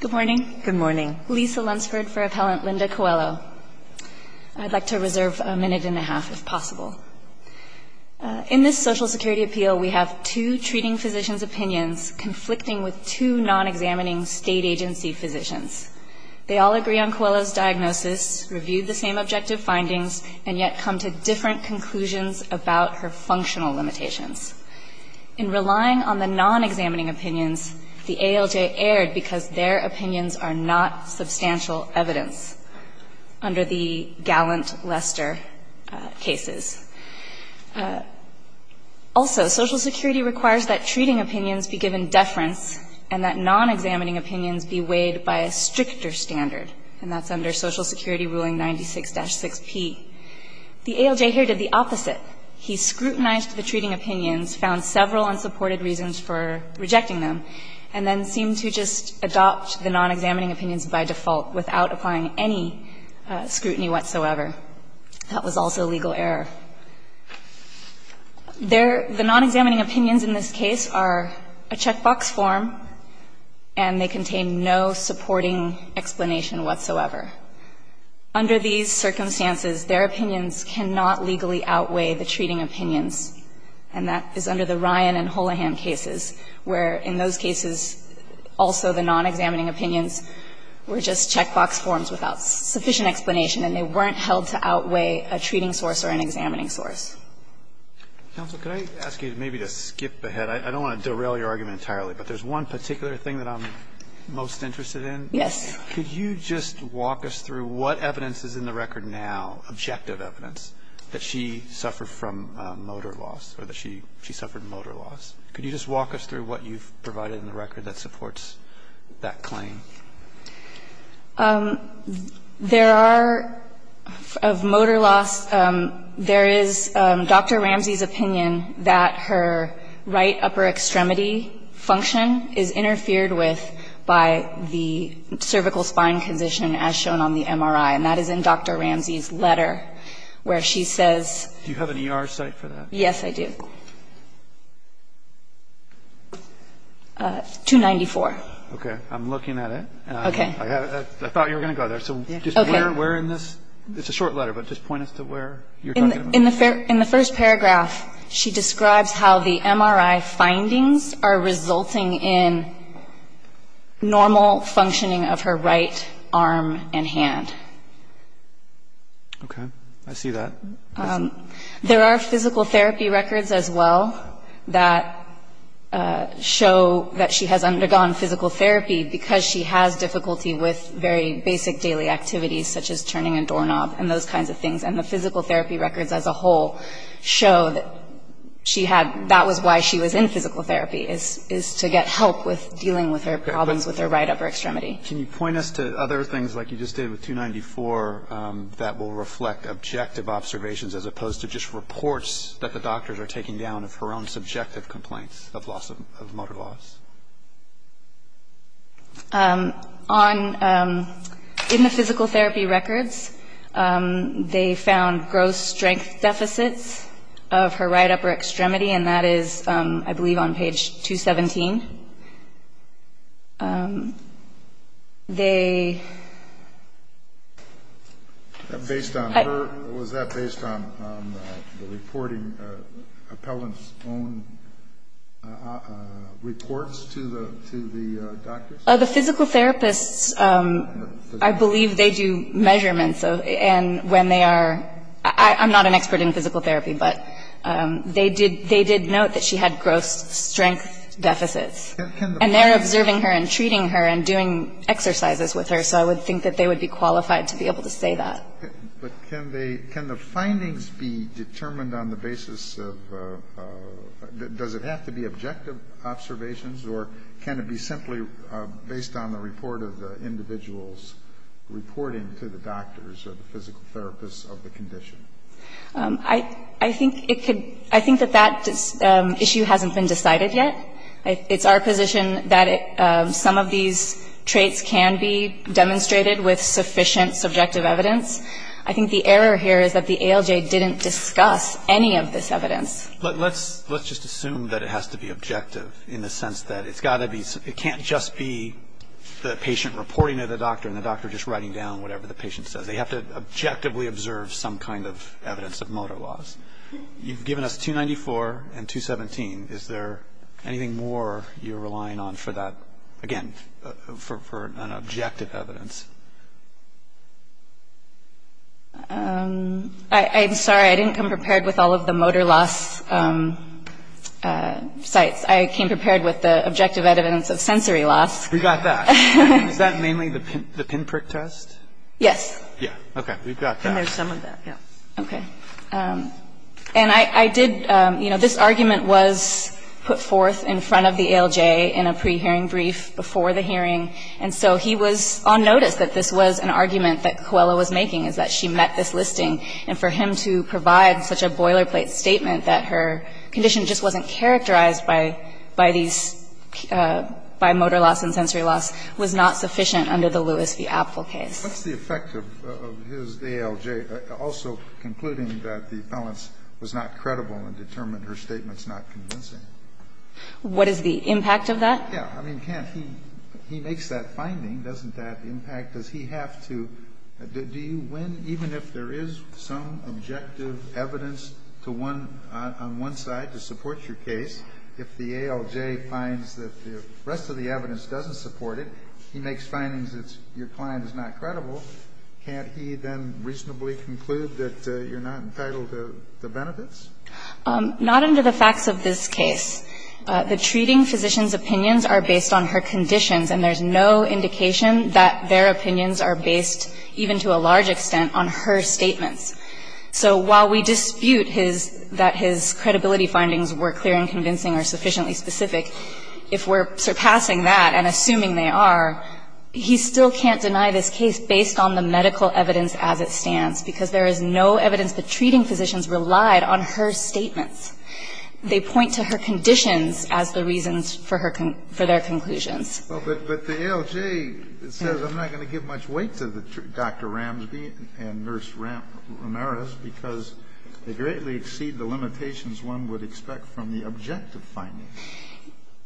Good morning. Good morning. Lisa Lunsford for Appellant Linda Coelho. I'd like to reserve a minute and a half, if possible. In this Social Security appeal, we have two treating physicians' opinions conflicting with two non-examining state agency physicians. They all agree on Coelho's diagnosis, review the same objective findings, and yet come to different conclusions about her functional limitations. In relying on the non-examining opinions, the ALJ erred because their opinions are not substantial evidence under the Gallant-Lester cases. Also, Social Security requires that treating opinions be given deference and that non-examining opinions be weighed by a stricter standard, and that's under Social Security Ruling 96-6P. The ALJ here did the opposite. He scrutinized the treating opinions, found several unsupported reasons for rejecting them, and then seemed to just adopt the non-examining opinions by default without applying any scrutiny whatsoever. That was also a legal error. Their – the non-examining opinions in this case are a checkbox form, and they contain no supporting explanation whatsoever. Under these circumstances, their opinions cannot legally outweigh the treating opinions, and that is under the Ryan and Holohan cases, where in those cases also the non-examining opinions were just checkbox forms without sufficient explanation, and they weren't held to outweigh a treating source or an examining source. Alito, could I ask you maybe to skip ahead? I don't want to derail your argument entirely, but there's one particular thing that I'm most interested in. Yes. Could you just walk us through what evidence is in the record now, objective evidence, that she suffered from motor loss or that she suffered motor loss? Could you just walk us through what you've provided in the record that supports that claim? There are, of motor loss, there is Dr. Ramsey's opinion that her right upper extremity function is interfered with by the cervical spine condition as shown on the MRI, and that is in Dr. Ramsey's letter, where she says. Do you have an ER site for that? Yes, I do. 294. Okay. I'm looking at it. Okay. I thought you were going to go there, so just where in this? It's a short letter, but just point us to where you're talking about. In the first paragraph, she describes how the MRI findings are resulting in normal functioning of her right arm and hand. Okay. I see that. There are physical therapy records as well that show that she has undergone physical therapy because she has difficulty with very basic daily activities, such as turning a doorknob and those kinds of things, and the physical therapy records as a whole show that she had, that was why she was in physical therapy, is to get help with dealing with her problems with her right upper extremity. Can you point us to other things like you just did with 294 that will reflect objective observations as opposed to just reports that the doctors are taking down of her own subjective complaints of loss of motor loss? In the physical therapy records, they found gross strength deficits of her right upper extremity, and that is, I believe, on page 217. Based on her? Was that based on the reporting appellant's own reports to the doctors? The physical therapists, I believe they do measurements, and when they are ‑‑ I'm not an expert in physical therapy, but they did note that she had gross strength deficits, and they're observing her and treating her and doing exercises with her, so I would think that they would be qualified to be able to say that. But can the findings be determined on the basis of ‑‑ does it have to be objective observations, or can it be simply based on the report of the individual's reporting to the doctors or the physical therapists of the condition? I think it could ‑‑ I think that that issue hasn't been decided yet. It's our position that some of these traits can be demonstrated with sufficient subjective evidence. I think the error here is that the ALJ didn't discuss any of this evidence. Let's just assume that it has to be objective in the sense that it's got to be ‑‑ it can't just be the patient reporting to the doctor and the doctor just writing down whatever the patient says. They have to objectively observe some kind of evidence of motor loss. You've given us 294 and 217. Is there anything more you're relying on for that, again, for an objective evidence? I'm sorry. I didn't come prepared with all of the motor loss sites. I came prepared with the objective evidence of sensory loss. We got that. Is that mainly the pinprick test? Yes. Yeah. Okay. We've got that. And there's some of that, yeah. Okay. And I did ‑‑ you know, this argument was put forth in front of the ALJ in a prehearing brief before the hearing. And so he was on notice that this was an argument that Coelho was making, is that she met this listing. And for him to provide such a boilerplate statement that her condition just wasn't characterized by these ‑‑ by motor loss and sensory loss was not sufficient under the Lewis v. Apfel case. What's the effect of his ALJ also concluding that the appellants was not credible and determined her statement's not convincing? What is the impact of that? Yeah. I mean, can't he ‑‑ he makes that finding. Doesn't that impact ‑‑ does he have to ‑‑ do you win even if there is some objective evidence to one ‑‑ on one side to support your case? If the ALJ finds that the rest of the evidence doesn't support it, he makes findings that your client is not credible, can't he then reasonably conclude that you're not entitled to the benefits? Not under the facts of this case. The treating physician's opinions are based on her conditions, and there's no indication that their opinions are based, even to a large extent, on her statements. So while we dispute his ‑‑ that his credibility findings were clear and convincing or sufficiently specific, if we're surpassing that and assuming they are, he still can't deny this case based on the medical evidence as it stands, because there is no evidence the treating physicians relied on her statements. They point to her conditions as the reasons for her ‑‑ for their conclusions. But the ALJ says I'm not going to give much weight to Dr. Ramsby and Nurse Ramirez because they greatly exceed the limitations one would expect from the objective findings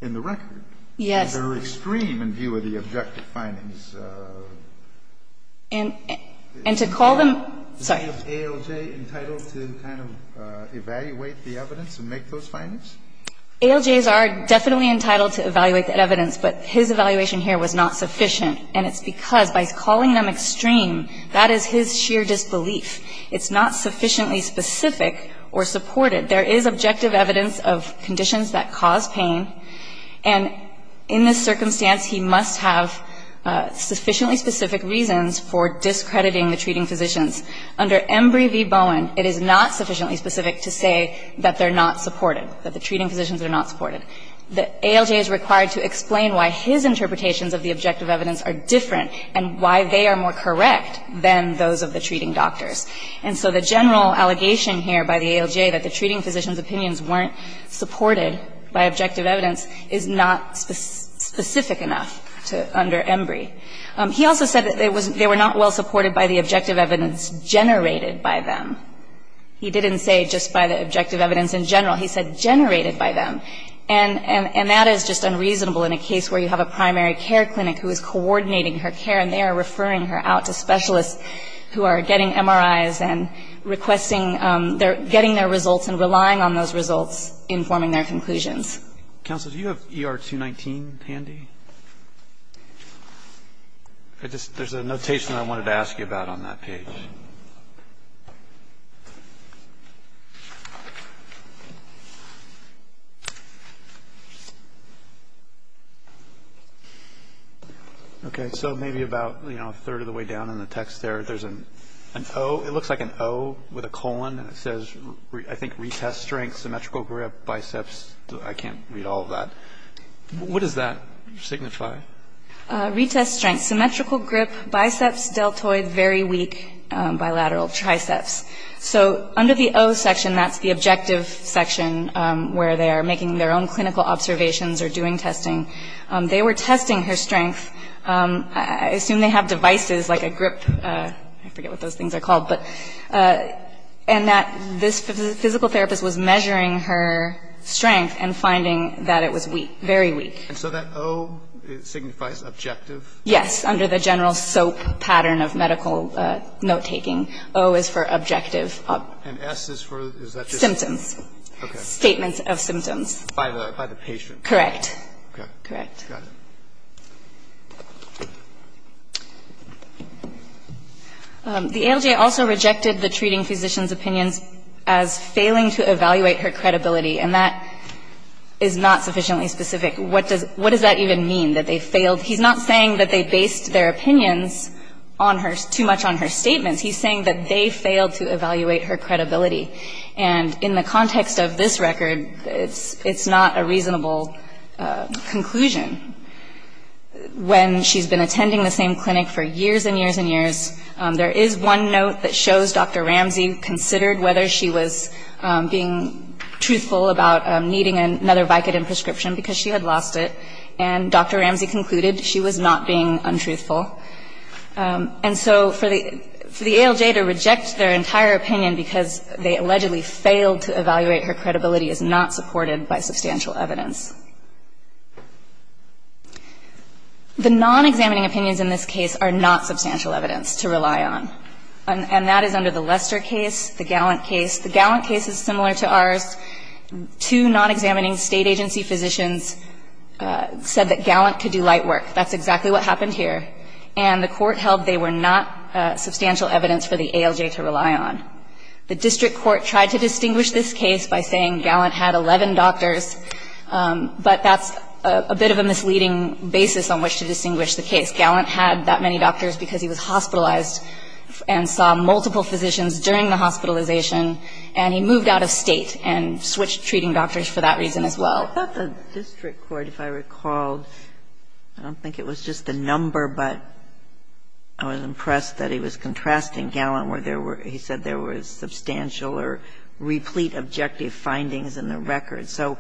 in the record. Yes. They're extreme in view of the objective findings. And to call them ‑‑ sorry. Is ALJ entitled to kind of evaluate the evidence and make those findings? ALJs are definitely entitled to evaluate that evidence, but his evaluation here was not sufficient. And it's because by calling them extreme, that is his sheer disbelief. It's not sufficiently specific or supported. There is objective evidence of conditions that cause pain, and in this circumstance, he must have sufficiently specific reasons for discrediting the treating physicians. Under Embry v. Bowen, it is not sufficiently specific to say that they're not supported, that the treating physicians are not supported. The ALJ is required to explain why his interpretations of the objective evidence are different and why they are more correct than those of the treating doctors. And so the general allegation here by the ALJ that the treating physicians' opinions weren't supported by objective evidence is not specific enough to ‑‑ under Embry. He also said that they were not well supported by the objective evidence generated by them. He didn't say just by the objective evidence in general. He said generated by them. And that is just unreasonable in a case where you have a primary care clinic who is coordinating her care, and they are referring her out to specialists who are getting MRIs and requesting ‑‑ getting their results and relying on those results informing their conclusions. Counsel, do you have ER 219 handy? There's a notation I wanted to ask you about on that page. Okay. So maybe about a third of the way down in the text there, there's an O. It looks like an O with a colon, and it says, I think, retest strength, symmetrical grip, biceps. I can't read all of that. What does that signify? Retest strength. Symmetrical grip, biceps, deltoid, very weak, bilateral, triceps. So under the O section, that's the objective section where they are making their own clinical observations or doing testing. They were testing her strength. I assume they have devices like a grip. I forget what those things are called. And that this physical therapist was measuring her strength and finding that it was weak, very weak. And so that O signifies objective? Yes, under the general SOAP pattern of medical note‑taking. O is for objective. And S is for, is that just ‑‑ Symptoms. Okay. Statements of symptoms. By the patient. Correct. Okay. Correct. Got it. The ALJ also rejected the treating physician's opinions as failing to evaluate her credibility. And that is not sufficiently specific. What does that even mean, that they failed? He's not saying that they based their opinions on her, too much on her statements. He's saying that they failed to evaluate her credibility. And in the context of this record, it's not a reasonable conclusion. When she's been attending the same clinic for years and years and years, there is one note that shows Dr. Ramsey considered whether she was being truthful about needing another Vicodin prescription because she had lost it. And Dr. Ramsey concluded she was not being untruthful. And so for the ALJ to reject their entire opinion because they allegedly failed to evaluate her credibility is not supported by substantial evidence. The non-examining opinions in this case are not substantial evidence to rely on. And that is under the Lester case, the Gallant case. The Gallant case is similar to ours. Two non-examining state agency physicians said that Gallant could do light work. That's exactly what happened here. And the court held they were not substantial evidence for the ALJ to rely on. The district court tried to distinguish this case by saying Gallant had 11 doctors, but that's a bit of a misleading basis on which to distinguish the case. Gallant had that many doctors because he was hospitalized and saw multiple physicians during the hospitalization, and he moved out of State and switched treating doctors for that reason as well. Ginsburg. I thought the district court, if I recall, I don't think it was just the number, but I was impressed that he was contrasting Gallant where there were he said there was substantial or replete objective findings in the record. So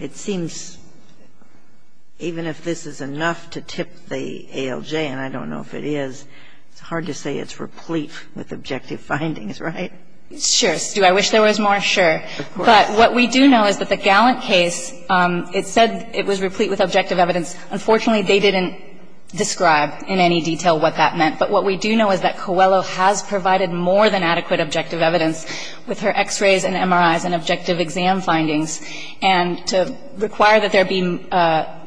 it seems even if this is enough to tip the ALJ, and I don't know if it is, it's hard to say it's replete with objective findings, right? Sure. Do I wish there was more? Sure. Of course. But what we do know is that the Gallant case, it said it was replete with objective evidence. Unfortunately, they didn't describe in any detail what that meant. But what we do know is that Coelho has provided more than adequate objective evidence with her X-rays and MRIs and objective exam findings. And to require that there be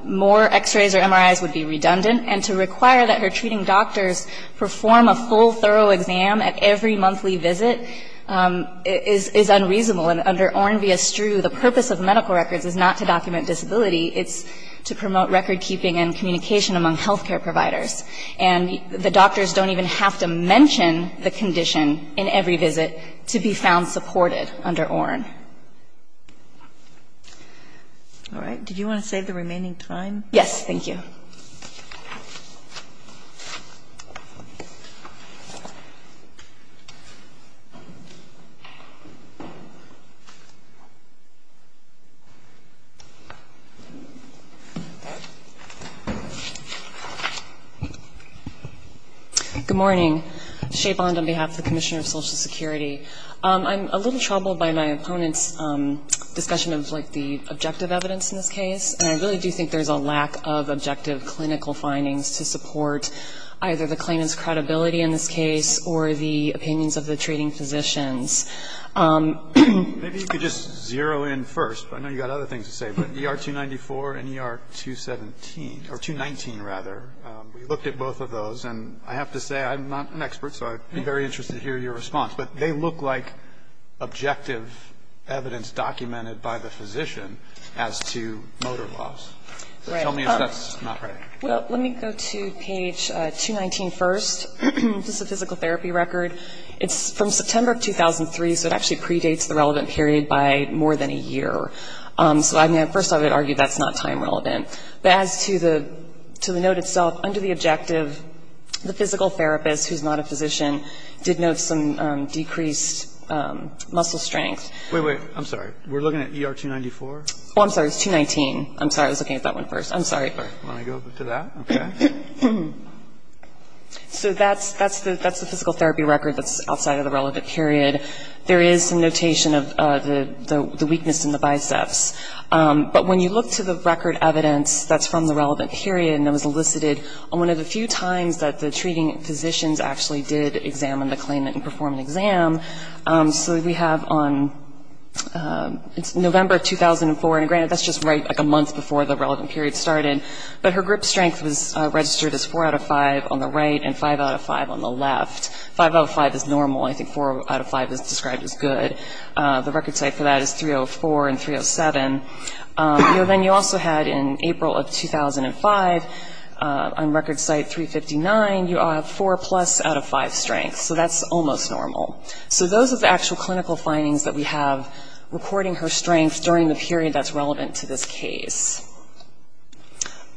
more X-rays or MRIs would be redundant. And to require that her treating doctors perform a full, thorough exam at every monthly visit is unreasonable. And under Ornvia-Strew, the purpose of medical records is not to document disability. It's to promote recordkeeping and communication among health care providers. And the doctors don't even have to mention the condition in every visit to be found supported under Orn. All right. Did you want to save the remaining time? Thank you. Good morning. Shea Bond on behalf of the Commissioner of Social Security. I'm a little troubled by my opponent's discussion of, like, the objective evidence in this case. And I really do think there's a lack of objective evidence in this case. I'm going to try to make it as clear as I possibly can. to support either the claimant's credibility in this case or the opinions of the treating physicians. Maybe you could just zero in first. I know you've got other things to say. But ER-294 and ER-217, or 219, rather, we looked at both of those. And I have to say I'm not an expert, so I'd be very interested to hear your response. But they look like objective evidence documented by the physician as to motor loss. So tell me if that's not right. Well, let me go to page 219 first. This is a physical therapy record. It's from September of 2003, so it actually predates the relevant period by more than a year. So, I mean, first I would argue that's not time relevant. But as to the note itself, under the objective, the physical therapist, who's not a physician, did note some decreased muscle strength. Wait, wait. I'm sorry. We're looking at ER-294? Oh, I'm sorry. It was 219. I'm sorry. I was looking at that one first. I'm sorry. Let me go to that. Okay. So that's the physical therapy record that's outside of the relevant period. There is some notation of the weakness in the biceps. But when you look to the record evidence that's from the relevant period and that was elicited on one of the few times that the treating physicians actually did examine the claimant and perform an exam. So we have on November 2004. And granted, that's just right like a month before the relevant period started. But her grip strength was registered as 4 out of 5 on the right and 5 out of 5 on the left. 5 out of 5 is normal. I think 4 out of 5 is described as good. The record site for that is 304 and 307. Then you also had in April of 2005, on record site 359, you have 4 plus out of 5 strength. So that's almost normal. So those are the actual clinical findings that we have recording her strength during the period that's relevant to this case.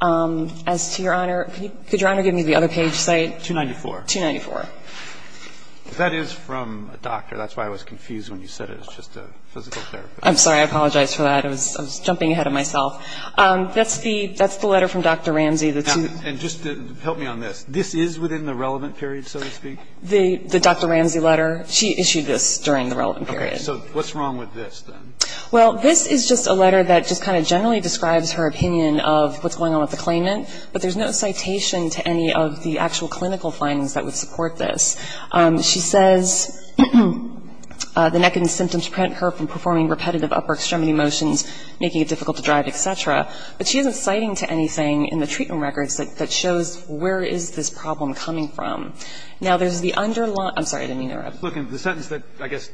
As to Your Honor, could Your Honor give me the other page site? 294. 294. That is from a doctor. That's why I was confused when you said it was just a physical therapy. I'm sorry. I apologize for that. I was jumping ahead of myself. That's the letter from Dr. Ramsey. And just help me on this. This is within the relevant period, so to speak? The Dr. Ramsey letter. She issued this during the relevant period. Okay. So what's wrong with this then? Well, this is just a letter that just kind of generally describes her opinion of what's going on with the claimant, but there's no citation to any of the actual clinical findings that would support this. She says the neck and symptoms prevent her from performing repetitive upper extremity motions, making it difficult to drive, et cetera. But she isn't citing to anything in the treatment records that shows where is this problem coming from. Now, there's the underlying – I'm sorry, I didn't mean to interrupt. Look, the sentence that I guess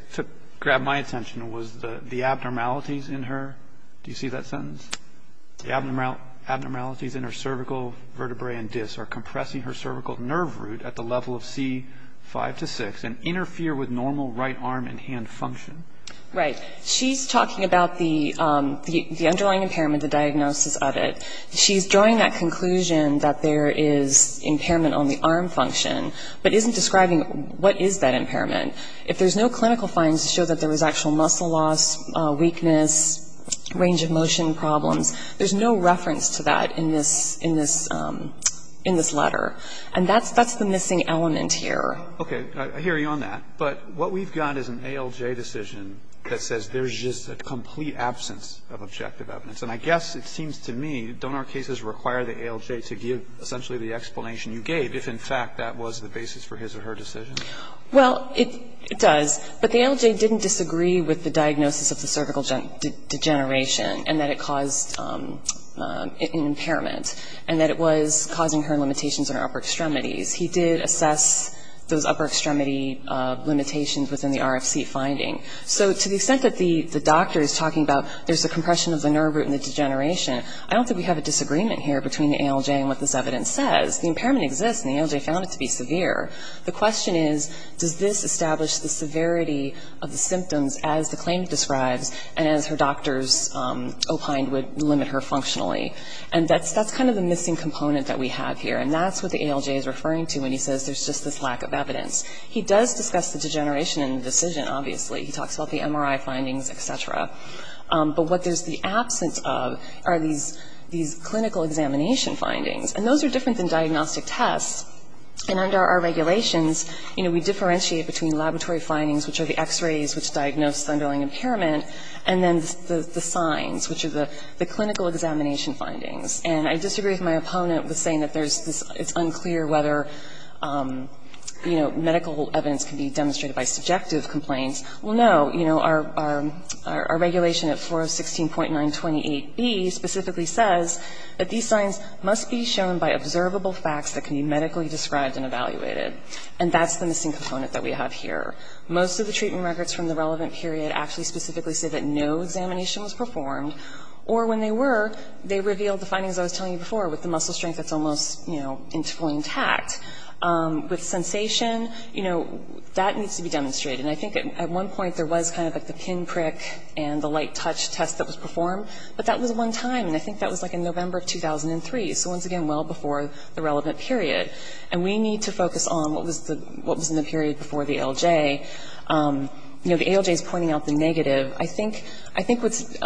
grabbed my attention was the abnormalities in her – do you see that sentence? The abnormalities in her cervical vertebrae and discs are compressing her cervical nerve root at the level of C5 to 6 and interfere with normal right arm and hand function. Right. She's talking about the underlying impairment, the diagnosis of it. She's drawing that conclusion that there is impairment on the arm function, but isn't describing what is that impairment. If there's no clinical findings to show that there was actual muscle loss, weakness, range of motion problems, there's no reference to that in this letter. And that's the missing element here. Okay. I hear you on that. But what we've got is an ALJ decision that says there's just a complete absence of objective evidence. And I guess it seems to me, don't our cases require the ALJ to give essentially the explanation you gave if in fact that was the basis for his or her decision? Well, it does. But the ALJ didn't disagree with the diagnosis of the cervical degeneration and that it caused an impairment and that it was causing her limitations in her upper extremities. He did assess those upper extremity limitations within the RFC finding. So to the extent that the doctor is talking about there's a compression of the nerve root and the degeneration, I don't think we have a disagreement here between the ALJ and what this evidence says. The impairment exists, and the ALJ found it to be severe. The question is, does this establish the severity of the symptoms as the claim describes and as her doctors opined would limit her functionally? And that's kind of the missing component that we have here. And that's what the ALJ is referring to when he says there's just this lack of evidence. He does discuss the degeneration in the decision, obviously. He talks about the MRI findings, et cetera. But what there's the absence of are these clinical examination findings. And those are different than diagnostic tests. And under our regulations, you know, we differentiate between laboratory findings, which are the x-rays which diagnose Thunderling impairment, and then the signs, which are the clinical examination findings. And I disagree with my opponent with saying that there's this unclear whether, you know, medical evidence can be demonstrated by subjective complaints. Well, no, you know, our regulation at 416.928B specifically says that these signs must be shown by observable facts that can be medically described and evaluated. And that's the missing component that we have here. Most of the treatment records from the relevant period actually specifically say that no examination was performed, or when they were, they revealed the findings I was telling you before with the muscle strength that's almost, you know, fully intact. With sensation, you know, that needs to be demonstrated. And I think at one point there was kind of like the pinprick and the light touch test that was performed, but that was one time. And I think that was like in November of 2003. So once again, well before the relevant period. And we need to focus on what was in the period before the ALJ. You know, the ALJ is pointing out the negative. I think what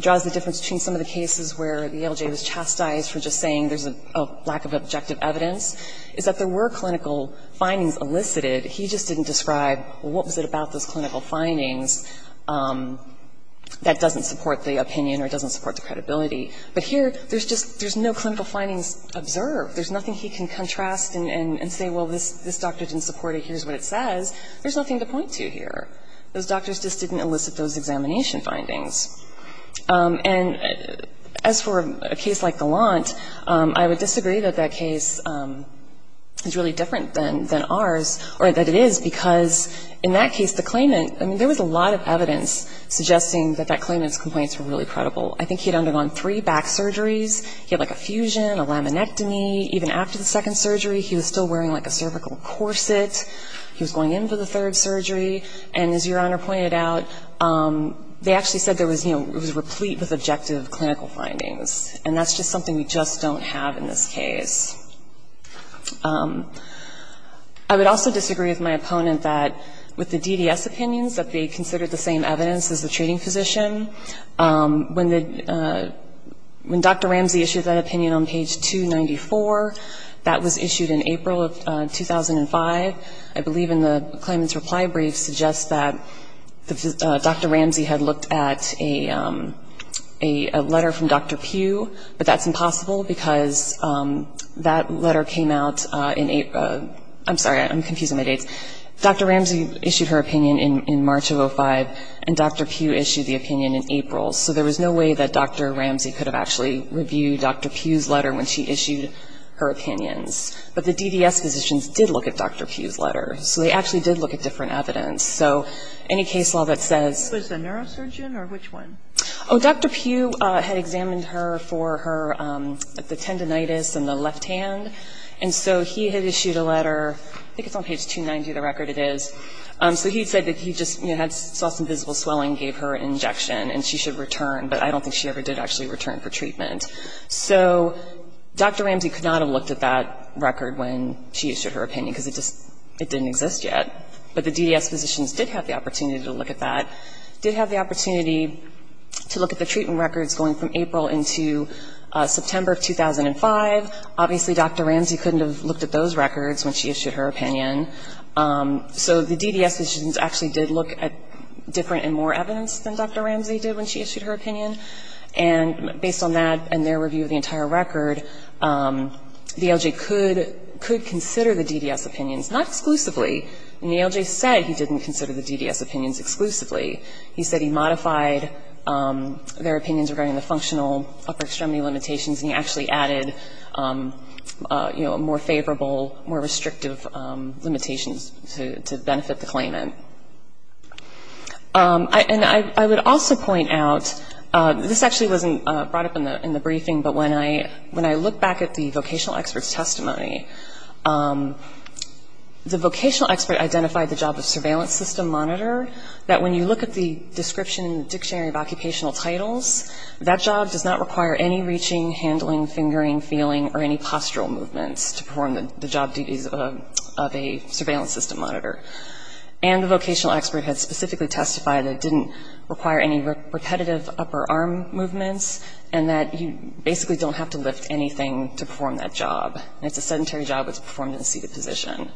draws the difference between some of the cases where the ALJ was chastised for just saying there's a lack of objective evidence is that there were clinical findings elicited. He just didn't describe what was it about those clinical findings that doesn't support the opinion or doesn't support the credibility. But here, there's just, there's no clinical findings observed. There's nothing he can contrast and say, well, this doctor didn't support it. Here's what it says. There's nothing to point to here. Those doctors just didn't elicit those examination findings. And as for a case like Gallant, I would disagree that that case is really different than ours, or that it is, because in that case, the claimant, I mean, there was a lot of evidence suggesting that that claimant's complaints were really credible. I think he had undergone three back surgeries. He had like a fusion, a laminectomy. Even after the second surgery, he was still wearing like a cervical corset. He was going in for the third surgery. And as Your Honor pointed out, they actually said there was, you know, it was replete with objective clinical findings. And that's just something we just don't have in this case. I would also disagree with my opponent that with the DDS opinions, that they considered the same evidence as the treating physician. When Dr. Ramsey issued that opinion on page 294, that was issued in April of 2005. I believe in the claimant's reply brief suggests that Dr. Ramsey had looked at a letter from Dr. Pugh, but that's impossible because that letter came out in April. I'm sorry. I'm confusing my dates. Dr. Ramsey issued her opinion in March of 2005, and Dr. Pugh issued the opinion in April. So there was no way that Dr. Ramsey could have actually reviewed Dr. Pugh's letter when she issued her opinions. But the DDS physicians did look at Dr. Pugh's letter. So they actually did look at different evidence. So any case law that says — for her tendinitis in the left hand. And so he had issued a letter. I think it's on page 290, the record. It is. So he said that he just saw some visible swelling, gave her an injection, and she should return. But I don't think she ever did actually return for treatment. So Dr. Ramsey could not have looked at that record when she issued her opinion because it didn't exist yet. But the DDS physicians did have the opportunity to look at that, did have the opportunity to look at the treatment records going from April into September of 2005. Obviously, Dr. Ramsey couldn't have looked at those records when she issued her opinion. So the DDS physicians actually did look at different and more evidence than Dr. Ramsey did when she issued her opinion. And based on that and their review of the entire record, the LJ could consider the DDS opinions, not exclusively. And the LJ said he didn't consider the DDS opinions exclusively. He said he modified their opinions regarding the functional upper extremity limitations and he actually added, you know, more favorable, more restrictive limitations to benefit the claimant. And I would also point out, this actually wasn't brought up in the briefing, but when I look back at the vocational expert's testimony, the vocational expert identified the job of If you look at the description in the Dictionary of Occupational Titles, that job does not require any reaching, handling, fingering, feeling, or any postural movements to perform the job duties of a surveillance system monitor. And the vocational expert had specifically testified that it didn't require any repetitive upper arm movements and that you basically don't have to lift anything to perform that job. And it's a sedentary job that's performed in a seated position.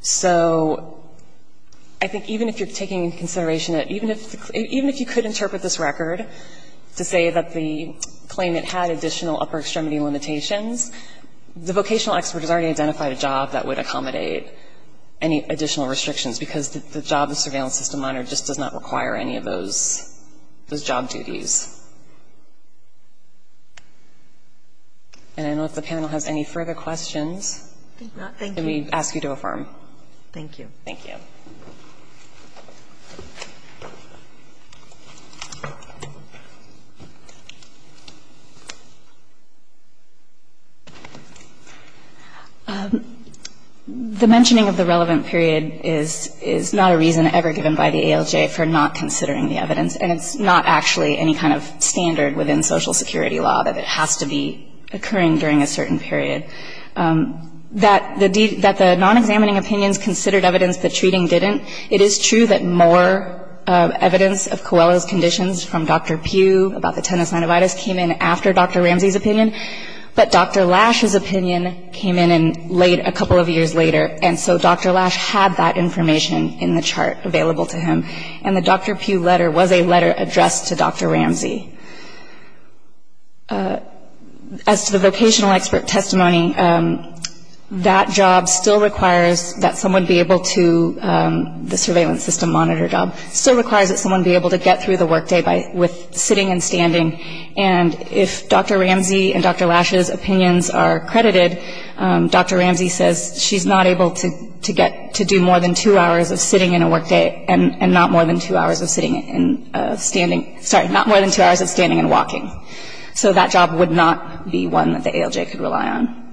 So I think even if you're taking into consideration, even if you could interpret this record to say that the claimant had additional upper extremity limitations, the vocational expert has already identified a job that would accommodate any additional restrictions because the job the surveillance system monitor just does not require any of those job duties. And I don't know if the panel has any further questions. Can we ask you to affirm? Thank you. Thank you. The mentioning of the relevant period is not a reason ever given by the ALJ for not considering the evidence, and it's not actually any kind of standard within social security law that has to be occurring during a certain period. That the non-examining opinions considered evidence, but treating didn't. It is true that more evidence of Coelho's conditions from Dr. Pugh about the tinnitus came in after Dr. Ramsey's opinion, but Dr. Lash's opinion came in a couple of years later, and so Dr. Lash had that information in the chart available to him, and the Dr. Pugh letter was a letter addressed to Dr. Ramsey. As to the vocational expert testimony, that job still requires that someone be able to the surveillance system monitor job, still requires that someone be able to get through the work day with sitting and standing, and if Dr. Ramsey and Dr. Lash's opinions are credited, Dr. Ramsey says she's not able to get to do more than two hours of sitting in a work day, and not more than two hours of sitting and standing, sorry, not more than two hours of standing and walking. So that job would not be one that the ALJ could rely on.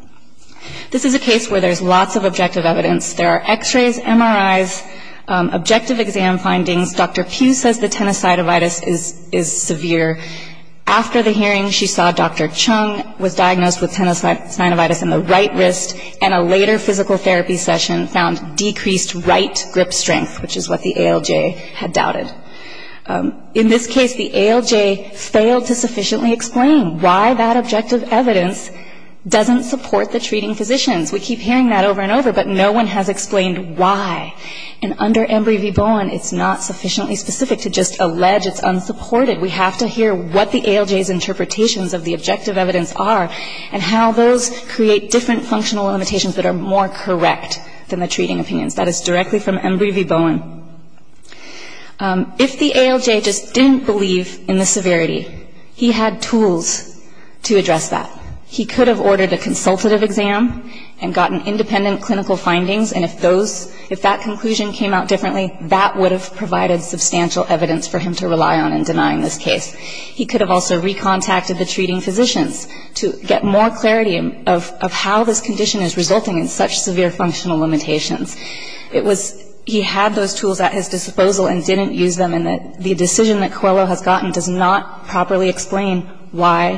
This is a case where there's lots of objective evidence. There are x-rays, MRIs, objective exam findings. Dr. Pugh says the tinnitus cytovitis is severe. After the hearing, she saw Dr. Chung was diagnosed with tinnitus cytovitis in the right wrist, and a later physical therapy session found decreased right grip strength, which is what the ALJ had doubted. In this case, the ALJ failed to sufficiently explain why that objective evidence doesn't support the treating physicians. We keep hearing that over and over, but no one has explained why. And under Embry v. Bowen, it's not sufficiently specific to just allege it's unsupported. We have to hear what the ALJ's interpretations of the objective evidence are, and how those create different functional limitations that are more correct than the treating opinions. That is directly from Embry v. Bowen. If the ALJ just didn't believe in the severity, he had tools to address that. He could have ordered a consultative exam and gotten independent clinical findings, and if that conclusion came out differently, that would have provided substantial evidence for him to rely on in denying this case. He could have also recontacted the treating physicians to get more clarity of how this condition is resulting in such severe functional limitations. He had those tools at his disposal and didn't use them, and the decision that Coelho has gotten does not properly explain why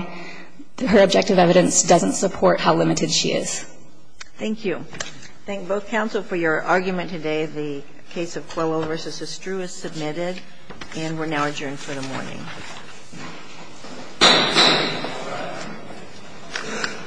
her objective evidence doesn't support how limited she is. Thank you. I thank both counsel for your argument today. The case of Coelho v. Estruz is submitted, and we're now adjourned for the morning.